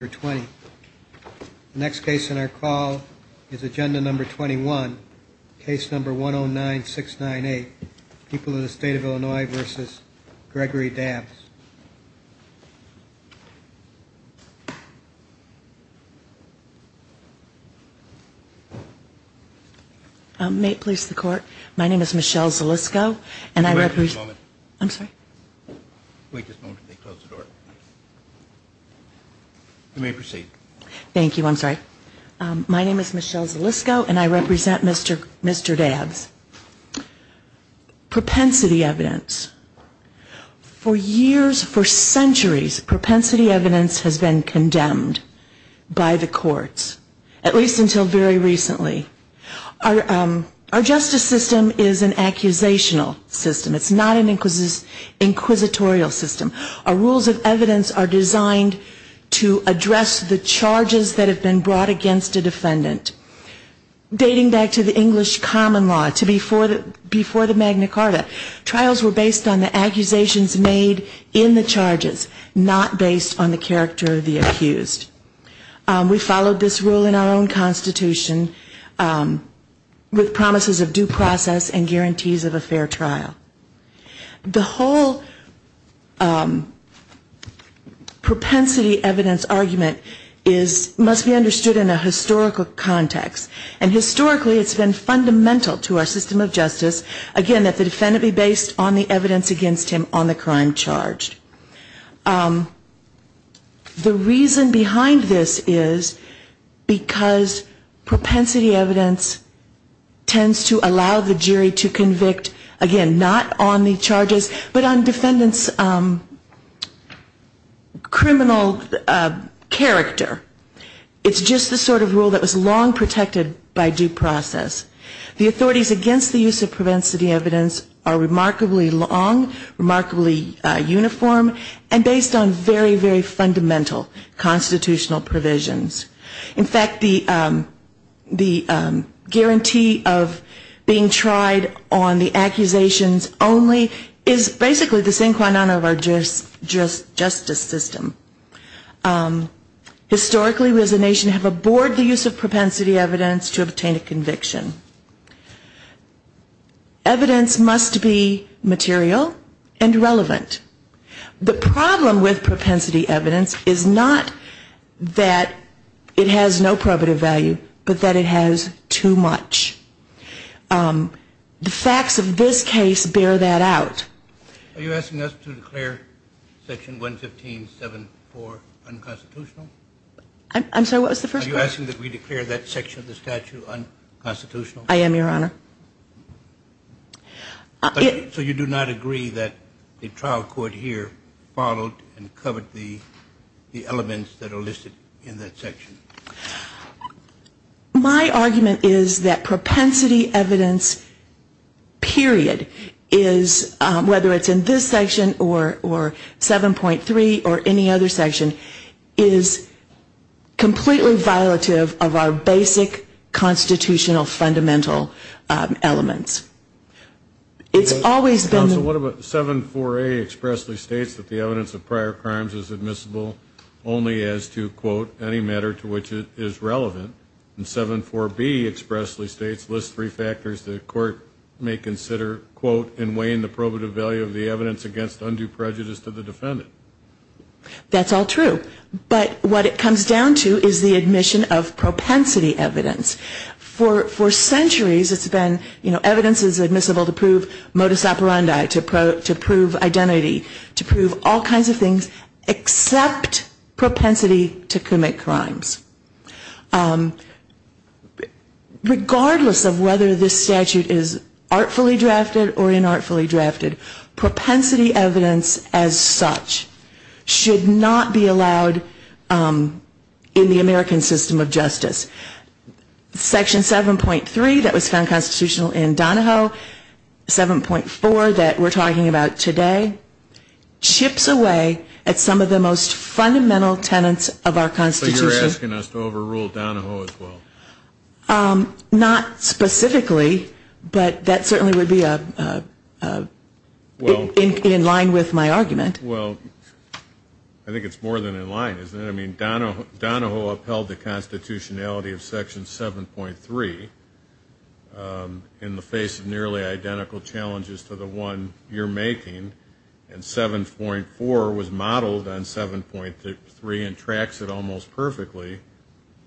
The next case in our call is agenda number 21, case number 109698, People of the State of Illinois v. Gregory Dabbs. May it please the court, my name is Michelle Zalisco and I represent Mr. Dabbs. Propensity evidence. For years, for centuries, propensity evidence has been condemned by the courts, at least until very recently. Our justice system is an accusational system. It's not an inquisitorial system. Our rules of evidence are designed to address the charges that have been brought against a defendant. Dating back to the English common law, to before the Magna Carta, trials were based on the accusations made in the charges, not based on the character of the accused. We followed this rule in our own case. The whole propensity evidence argument is, must be understood in a historical context. And historically it's been fundamental to our system of justice, again, that the defendant be based on the evidence against him on the crime charged. The reason behind this is because propensity evidence tends to allow the jury to convict, again, not on the charges, but on defendant's criminal character. It's just the sort of rule that was long protected by due process. The authorities against the use of propensity evidence are remarkably long, remarkably uniform, and based on very, very fundamental constitutional provisions. In fact, the guarantee of the defendant being tried on the accusations only is basically the sin quo non of our justice system. Historically we as a nation have abhorred the use of propensity evidence to obtain a conviction. Evidence must be material and relevant. The problem with propensity evidence is not that it has no probative value, but that it has too much. The facts of this case bear that out. Are you asking us to declare section 115.7.4 unconstitutional? I'm sorry, what was the first question? Are you asking that we declare that section of the statute unconstitutional? I am, Your Honor. So you do not agree that the trial court here followed and covered the elements that are listed in that section? My argument is that propensity evidence period is, whether it's in this section or 7.3 or any other section, is completely violative of our basic constitutional fundamental elements. It's always been Counsel, what about 7.4a expressly states that the evidence of prior to which it is relevant, and 7.4b expressly states, lists three factors the court may consider, quote, in weighing the probative value of the evidence against undue prejudice to the defendant. That's all true. But what it comes down to is the admission of propensity evidence. For centuries it's been, you know, evidence is admissible to prove modus operandi, to prove identity, to prove all rights, propensity to commit crimes. Regardless of whether this statute is artfully drafted or inartfully drafted, propensity evidence as such should not be allowed in the American system of justice. Section 7.3 that was found constitutional in Donahoe, 7.4 that we're talking about today, chips away at some of the most fundamental tenets of our Constitution. So you're asking us to overrule Donahoe as well? Not specifically, but that certainly would be in line with my argument. Well, I think it's more than in line, isn't it? I mean, Donahoe upheld the constitutionality of Section 7.3 in the face of nearly everything else. 7.4 was modeled on 7.3 and tracks it almost perfectly.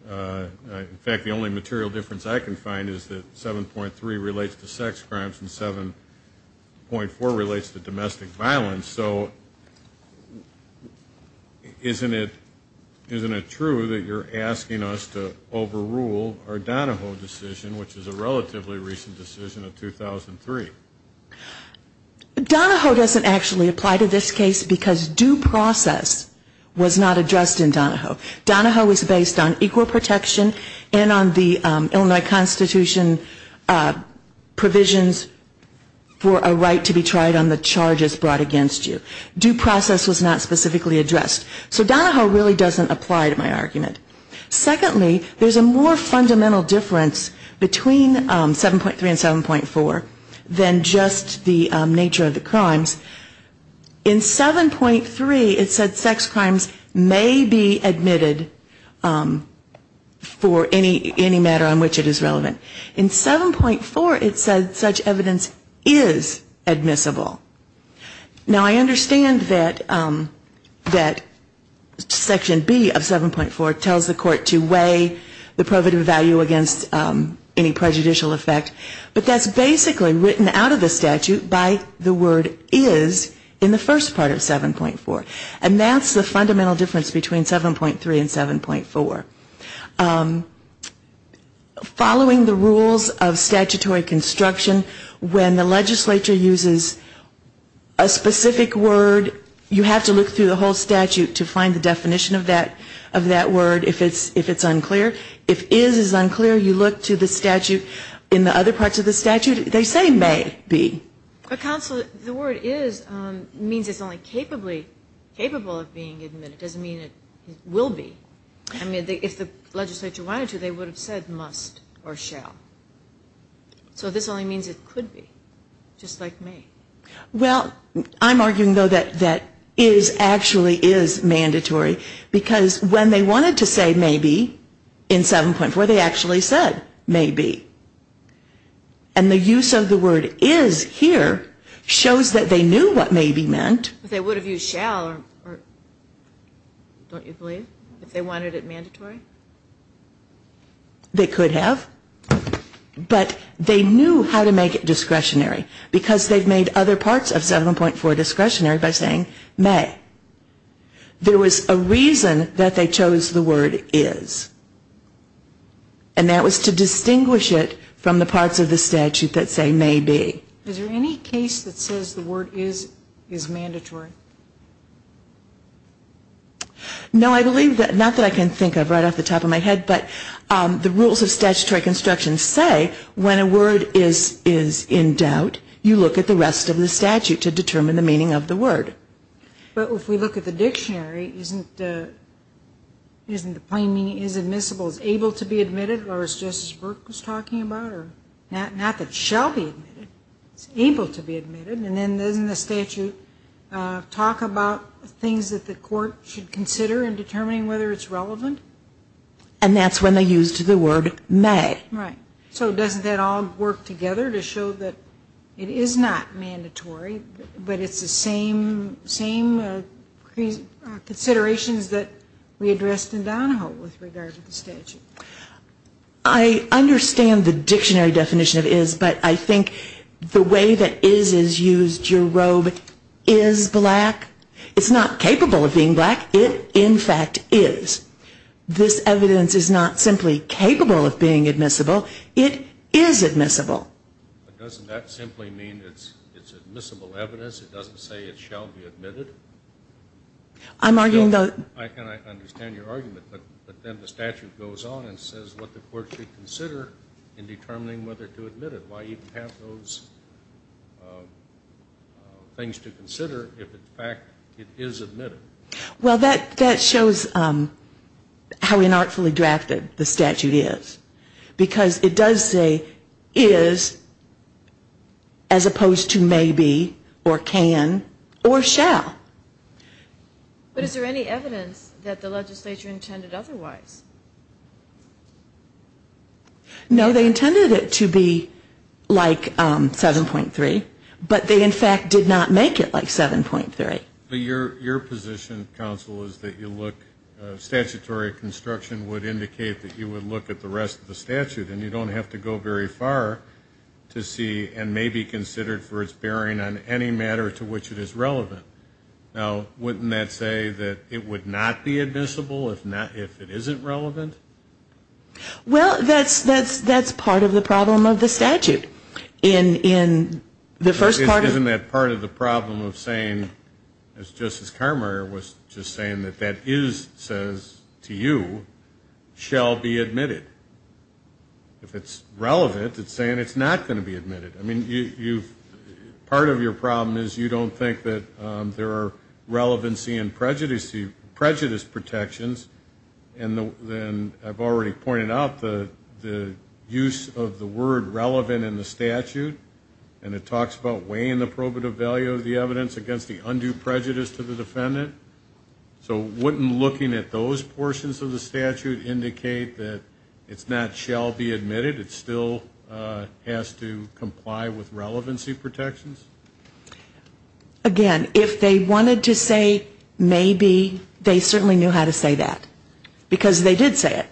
In fact, the only material difference I can find is that 7.3 relates to sex crimes and 7.4 relates to domestic violence. So isn't it true that you're asking us to overrule our Donahoe decision, which is a relatively recent decision of 2003? Donahoe doesn't actually apply to this case because due process was not addressed in Donahoe. Donahoe was based on equal protection and on the Illinois Constitution provisions for a right to be tried on the charges brought against you. Due process was not specifically addressed. So Donahoe really doesn't apply to my argument. Secondly, there's a more fundamental difference between 7.3 and 7.4 than just the nature of the crimes. In 7.3, it said sex crimes may be admitted for any matter on which it is relevant. In 7.4, it said such evidence is admissible. Now, I understand that Section B of 7.4 tells the court to weigh the prohibitive value against any prejudicial effect. But that's basically written out of the statute by the word is in the first part of 7.4. And that's the fundamental difference between 7.3 and 7.4. Following the rules of statutory construction, when the legislature uses a specific word, you have to look through the whole statute to see if it's true. In the other parts of the statute, they say may be. The word is means it's only capable of being admitted. It doesn't mean it will be. I mean, if the legislature wanted to, they would have said must or shall. So this only means it could be, just like may. Well, I'm arguing, though, that is actually is mandatory because when they wanted to say may be in 7.4, they actually said may be. And the use of the word is here shows that they knew what may be meant. They would have used shall, don't you believe, if they wanted it mandatory? They could have, but they knew how to make it discretionary because they've made other parts of 7.4 discretionary by saying may. There was a reason that they chose the word is, and that was to distinguish it from the parts of the statute that say may be. Is there any case that says the word is mandatory? No, I believe that, not that I can think of right off the top of my head, but the rules of statutory construction say when a word is in doubt, you look at the rest of the statute to determine the meaning of the word. But if we look at the dictionary, isn't the plain meaning is admissible, is able to be admitted, or as Justice Burke was talking about, or not that shall be admitted, it's able to be admitted, and then doesn't the statute talk about things that the court should consider in determining whether it's relevant? And that's when they used the word may. Right. So doesn't that all work together to show that it is not mandatory, but it's the same considerations that we addressed in Donahoe with regard to the statute? I understand the dictionary definition of is, but I think the way that is is black. It's not capable of being black. It, in fact, is. This evidence is not simply capable of being admissible. It is admissible. But doesn't that simply mean it's admissible evidence? It doesn't say it shall be admitted? I'm arguing that the statute goes on and says what the court should consider in determining whether to admit it. Why even have those things to consider if, in fact, it is admitted? Well, that shows how inartfully drafted the statute is. Because it does say is as opposed to maybe or can or shall. But is there any evidence that the legislature intended otherwise? No, they intended it to be like 7.3, but they, in fact, did not make it like 7.3. Your position, counsel, is that you look, statutory construction would indicate that you would look at the rest of the statute, and you don't have to go very far to see and may be considered for its bearing on any matter to which it is relevant. Now, wouldn't that say that it would not be admissible if it isn't relevant? Well, that's part of the problem of the statute. Isn't that part of the problem of saying, as Justice Kramer was just saying, that that is, says to you, shall be admitted? If it's relevant, it's saying it's not going to be admitted. Part of your problem is you don't think that there are relevancy and prejudice protections, and I've already pointed out the use of the word relevant in the statute, and it talks about weighing the probative value of the evidence against the undue prejudice to the defendant. So wouldn't looking at those portions of the statute indicate that it's not shall be admitted? It still has to comply with relevancy protections? Again, if they wanted to say may be, they certainly knew how to say that, because they did say it.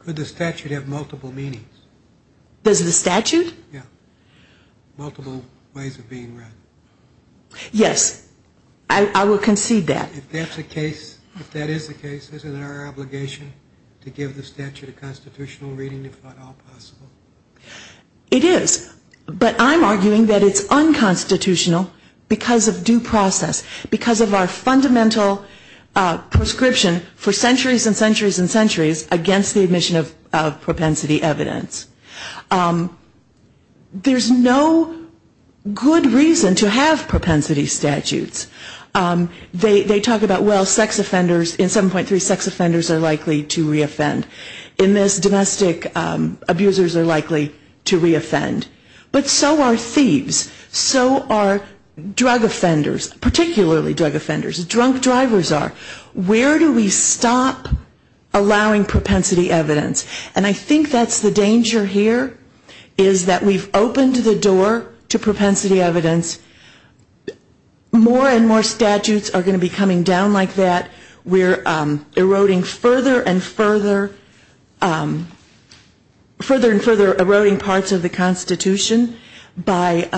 Could the statute have multiple meanings? Does the statute? Yes, I will concede that. If that is the case, isn't it our obligation to give the statute a constitutional reading if at all possible? It is, but I'm arguing that it's unconstitutional because of due process, because of our fundamental prescription for centuries and centuries and centuries against the admission of propensity evidence. There's no good reason to have propensity statutes. They talk about, well, sex offenders, in 7.3, sex offenders are likely to reoffend. In this, domestic abusers are likely to reoffend. But so are thieves, so are drug offenders, particularly drug offenders, drunk drivers are. Where do we stop allowing propensity evidence? And I think that's the danger here, is that we've opened the door to propensity evidence. More and more statutes are going to be coming down like that. We're eroding further and further, further and further eroding parts of the Constitution by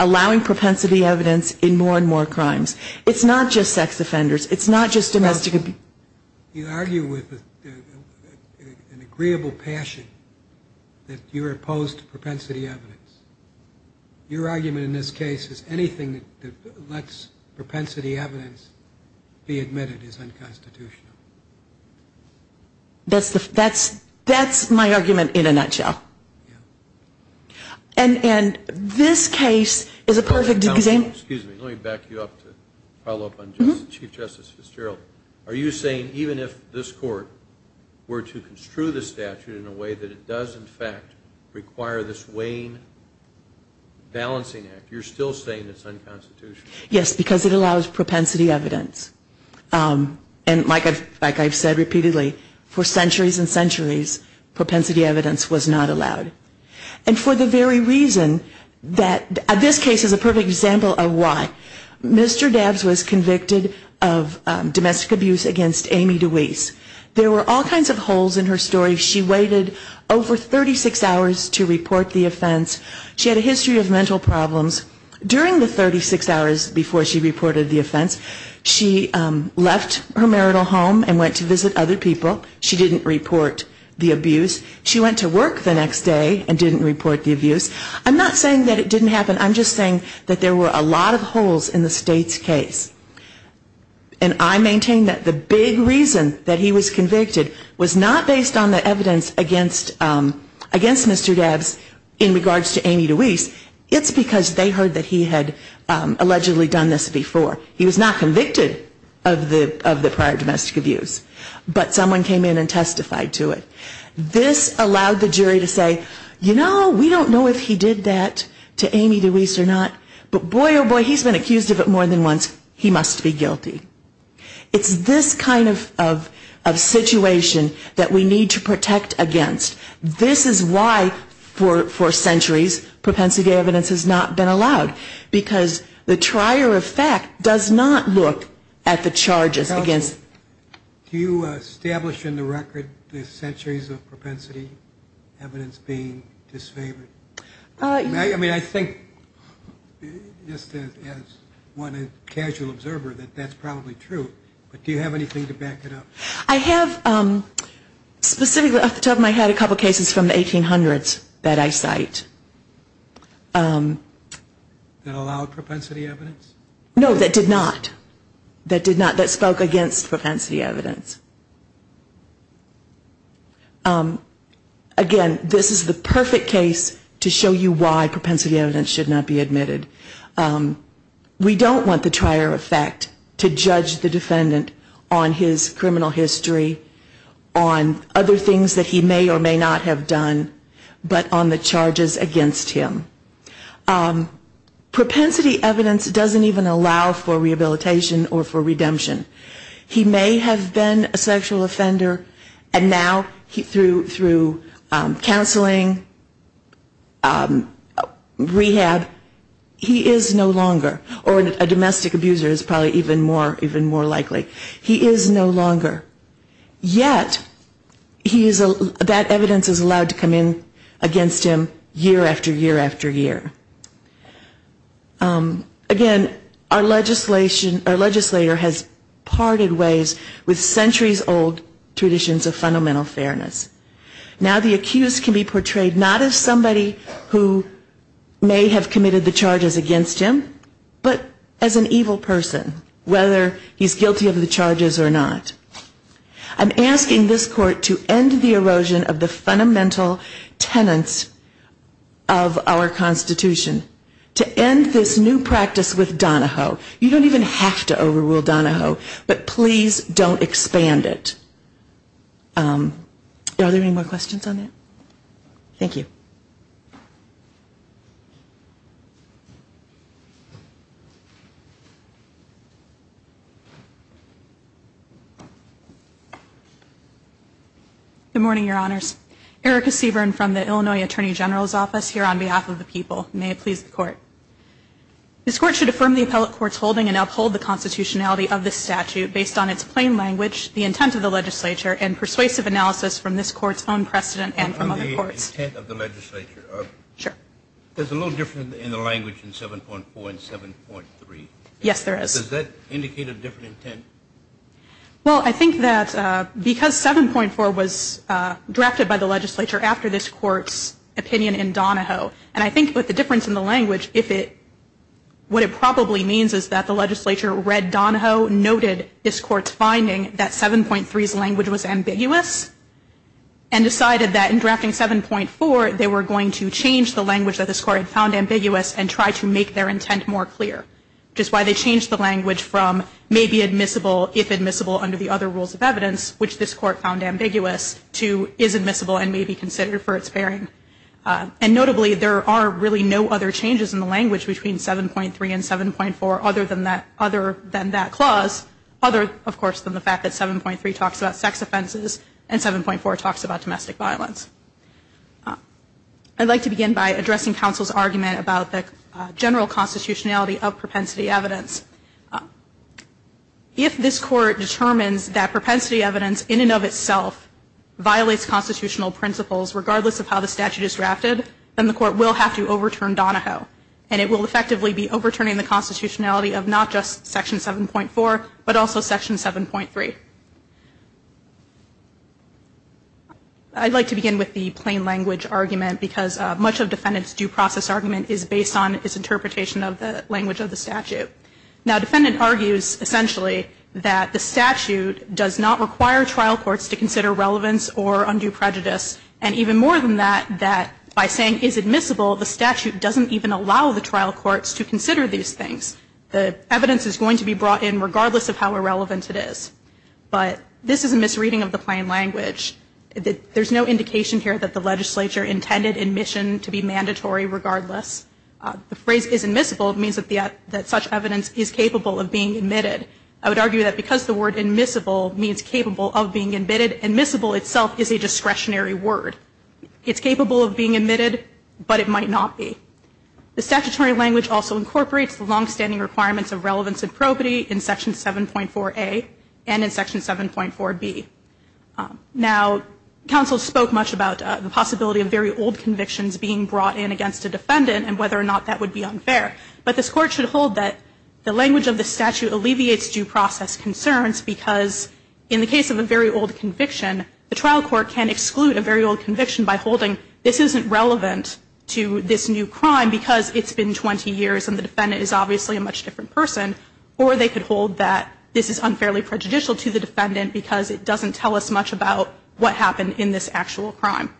allowing propensity evidence in more and more crimes. It's not just sex offenders. It's an agreeable passion that you're opposed to propensity evidence. Your argument in this case is anything that lets propensity evidence be admitted is unconstitutional. That's my argument in a nutshell. And this case is a perfect example. Excuse me, let me back you up to follow up on Chief Justice Fitzgerald. Are you saying even if this Court were to construe this statute in a way that it does in fact require this Wayne balancing act, you're still saying it's unconstitutional? Yes, because it allows propensity evidence. And like I've said repeatedly for centuries and centuries, propensity evidence was not allowed. And for the very reason that this case is a perfect example of why. Mr. Dabbs was convicted of domestic abuse against Amy DeWeese. There were all kinds of holes in her story. She waited over 36 hours to report the offense. She had a history of mental problems. During the 36 hours before she reported the offense, she left her marital home and went to visit other people. She didn't report the abuse. She went to work the next day and didn't report the abuse. I'm not saying that it didn't happen. I'm just saying that there were a lot of holes in the State's case. And I maintain that the big reason that he was convicted was not based on the evidence against Mr. Dabbs in regards to Amy DeWeese. It's because they heard that he had allegedly done this before. He was not convicted of the prior domestic abuse. But someone came in and testified to it. This allowed the jury to say, you know, we don't know if he did that to Amy DeWeese or not. But boy oh boy, he's been accused of it more than once. He must be guilty. It's this kind of situation that we need to protect against. This is why for centuries propensity evidence has not been allowed. Because the trier of fact does not look at the charges against. Do you establish in the record the centuries of propensity evidence being disfavored? I mean, I think just as one casual observer that that's probably true. But do you have anything to back it up? I have specifically at the top of my head a couple cases from the 1800s that I cite. That allowed propensity evidence? No, that did not. That spoke against propensity evidence. Again, this is the perfect case to show you why propensity evidence should not be admitted. We don't want the trier of fact to judge the defendant on his criminal history, on other things that he may or may not have done, but on the charges against him. Propensity evidence doesn't even allow for rehabilitation or for redemption. He may have been a sexual offender, and now through counseling, rehab, he is no longer. Or a domestic abuser is probably even more likely. He is no longer. Yet that evidence is allowed to come in against him year after year after year. Again, our legislator has parted ways with centuries-old traditions of fundamental fairness. Now the accused can be portrayed not as somebody who may have committed the charges against him, but as an evil person, whether he's guilty of the charges or not. I'm asking this court to end the erosion of the fundamental tenets of our Constitution. To end this new practice with Donahoe. You don't even have to overrule Donahoe, but please don't expand it. Are there any more questions on that? Thank you. Good morning, Your Honors. Erica Seaborn from the Illinois Attorney General's Office here on behalf of the people. May it please the court. This court should affirm the appellate court's holding and uphold the constitutionality of this statute based on its plain language, the intent of the legislature, and persuasive analysis from this court's own precedent and from other courts. The intent of the legislature. There's a little difference in the language in 7.4 and 7.3. Yes, there is. Does that indicate a different intent? Well, I think that because 7.4 was drafted by the legislature after this court's opinion in Donahoe, and I think with the difference in the language, what it probably means is that the legislature read Donahoe, noted this court's finding that 7.3's language was ambiguous, and decided that in drafting 7.4 they were going to change the language that this court had found ambiguous and try to make their intent more clear. Which is why they changed the language from may be admissible if admissible under the other rules of evidence, which this court found ambiguous, to is admissible and may be considered for its pairing. And notably, there are really no other changes in the language between 7.3 and 7.4 other than that clause, other, of course, than the fact that 7.3 talks about sex offenses and 7.4 talks about domestic violence. I'd like to begin by addressing counsel's argument about the general constitutionality of propensity evidence. If this court determines that propensity evidence in and of itself violates constitutional principles regardless of how the statute is drafted, then the court will have to overturn Donahoe. And it will effectively be overturning the constitutionality of not just Section 7.4, but also Section 7.3. I'd like to begin with the plain language argument, because much of defendants' due process argument is based on its interpretation of the language of the statute. Now, a defendant argues, essentially, that the statute does not require trial courts to consider relevance or undue prejudice, and even more than that, that by saying is admissible, the statute doesn't even allow the trial courts to consider these things. The evidence is going to be brought in regardless of how irrelevant it is. But this is a misreading of the plain language. There's no indication here that the legislature intended admission to be mandatory regardless. The phrase is admissible means that such evidence is capable of being admitted. I would argue that because the word admissible means capable of being admitted, admissible itself is a discretionary word. It's capable of being admitted, but it might not be. The statutory language also incorporates the longstanding requirements of relevance and probity in Section 7.4a and in Section 7.4b. Now, counsel spoke much about the possibility of very old convictions being brought in against a defendant and whether or not that would be unfair. But this Court should hold that the language of the statute alleviates due process concerns because in the case of a very old conviction, the trial court can exclude a very old conviction by holding this isn't relevant to this new crime because it's been 20 years and the defendant is obviously a much different person, or they could hold that this is unfairly prejudicial to the defendant because it doesn't tell us much about what happened in this actual crime.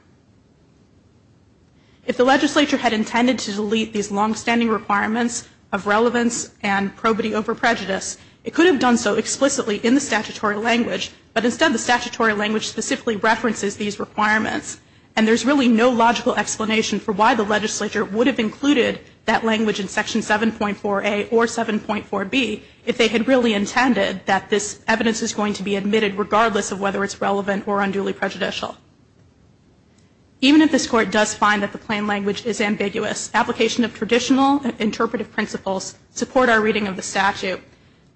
If the legislature had intended to delete these longstanding requirements of relevance and probity over prejudice, it could have done so explicitly in the statutory language, but instead the statutory language specifically references these requirements, and there's really no logical explanation for why the legislature would have included that language in Section 7.4a or 7.4b if they had really intended that this evidence is going to be admitted regardless of whether it's relevant or unduly prejudicial. Even if this Court does find that the plain language is ambiguous, application of traditional interpretive principles support our reading of the statute.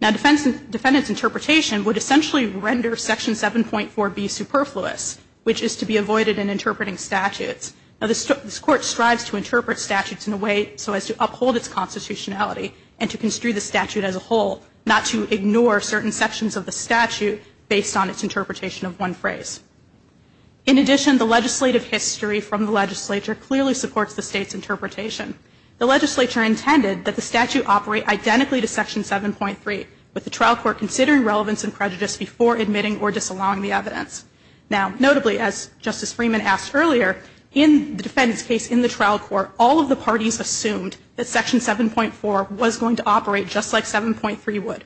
Now, defendant's interpretation would essentially render Section 7.4b superfluous, which is to be avoided in interpreting statutes. Now, this Court strives to interpret statutes in a way so as to uphold its constitutionality and to construe the statute as a whole, not to ignore certain sections of the statute based on its interpretation of one phrase. In addition, the legislative history from the legislature clearly supports the State's interpretation. The legislature intended that the statute operate identically to Section 7.3, with the trial court considering relevance and prejudice before admitting or disallowing the evidence. Now, notably, as Justice Freeman asked earlier, in the defendant's case in the trial court, all of the parties assumed that Section 7.4 was going to operate just like 7.3 would.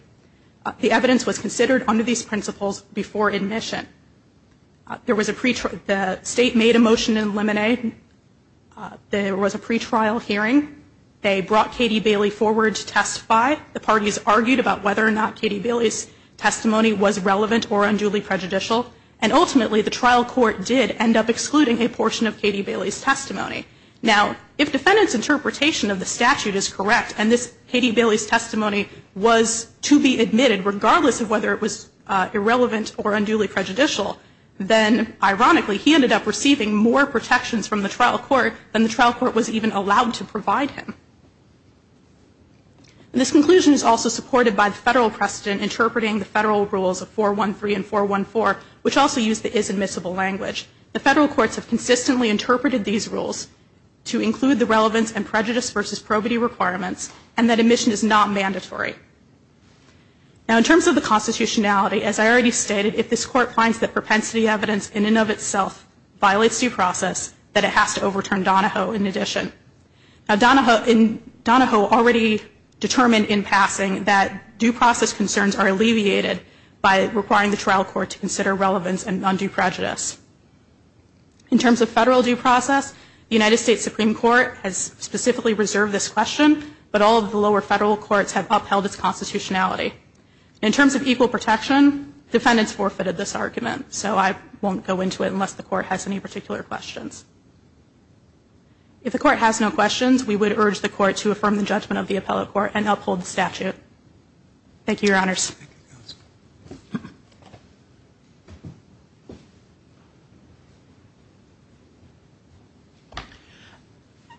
The evidence was considered under these principles before admission. The State made a motion to eliminate. There was a pretrial hearing. They brought Katie Bailey forward to testify. The parties argued about whether or not Katie Bailey's testimony was relevant or unduly prejudicial. And ultimately, the trial court did end up excluding a portion of Katie Bailey's testimony. Now, if defendant's interpretation of the statute is correct and Katie Bailey's testimony was to be admitted, regardless of whether it was irrelevant or unduly prejudicial, then, ironically, he ended up receiving more protections from the trial court than the trial court was even allowed to provide him. And this conclusion is also supported by the federal precedent interpreting the federal rules of 413 and 414, which also use the is admissible language. The federal courts have consistently interpreted these rules to include the relevance and prejudice versus probity requirements, and that admission is not mandatory. Now, in terms of the constitutionality, as I already stated, if this court finds that propensity evidence in and of itself violates due process, that it has to overturn Donahoe in addition. Now, Donahoe already determined in passing that due process concerns are alleviated by requiring the trial court to consider relevance and undue prejudice. In terms of federal due process, the United States Supreme Court has specifically reserved this question, but all of the lower federal courts have upheld its constitutionality. In terms of equal protection, defendants forfeited this argument, so I won't go into it unless the court has any particular questions. If the court has no questions, we would urge the court to affirm the judgment of the appellate court Thank you, Your Honors.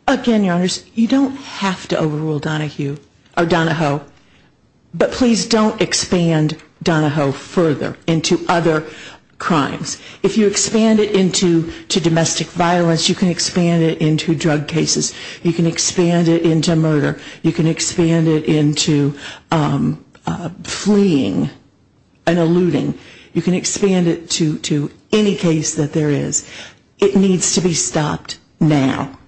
Again, Your Honors, you don't have to overrule Donahoe, but please don't expand Donahoe further into other crimes. If you expand it into domestic violence, you can expand it into drug cases. You can expand it into murder. You can expand it into fleeing and eluding. You can expand it to any case that there is. It needs to be stopped now.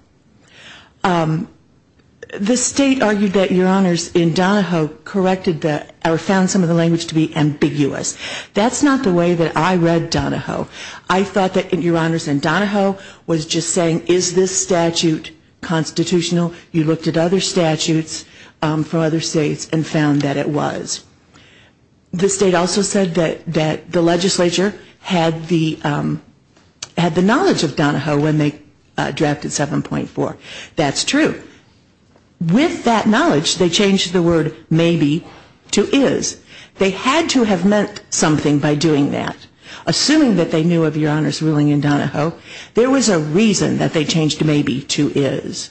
The state argued that Your Honors, in Donahoe, corrected or found some of the language to be ambiguous. That's not the way that I read Donahoe. I thought that Your Honors, in Donahoe, was just saying, is this statute constitutional? You looked at other statutes from other states and found that it was. The state also said that the legislature had the knowledge of Donahoe when they drafted 7.4. That's true. With that knowledge, they changed the word maybe to is. They had to have meant something by doing that. Assuming that they knew of Your Honors' ruling in Donahoe, there was a reason that they changed maybe to is.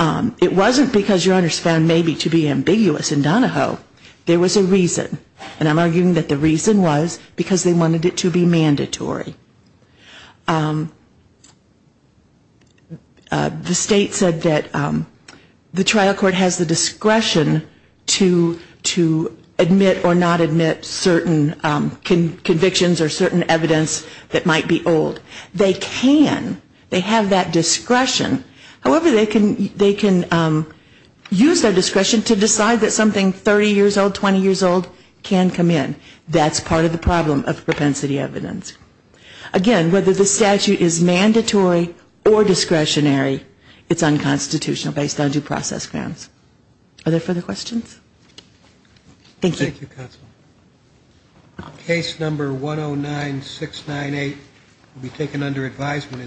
It wasn't because Your Honors found maybe to be ambiguous in Donahoe. There was a reason. And I'm arguing that the reason was because they wanted it to be mandatory. The state said that the trial court has the discretion to admit or not admit certain convictions or certain evidence that might be old. They can. They have that discretion. However, they can use their discretion to decide that something 30 years old, 20 years old can come in. That's part of the problem of propensity evidence. Again, whether the statute is mandatory or discretionary, it's unconstitutional based on due process grounds. Are there further questions? Thank you. Thank you, Counsel. Case number 109698 will be taken under advisement.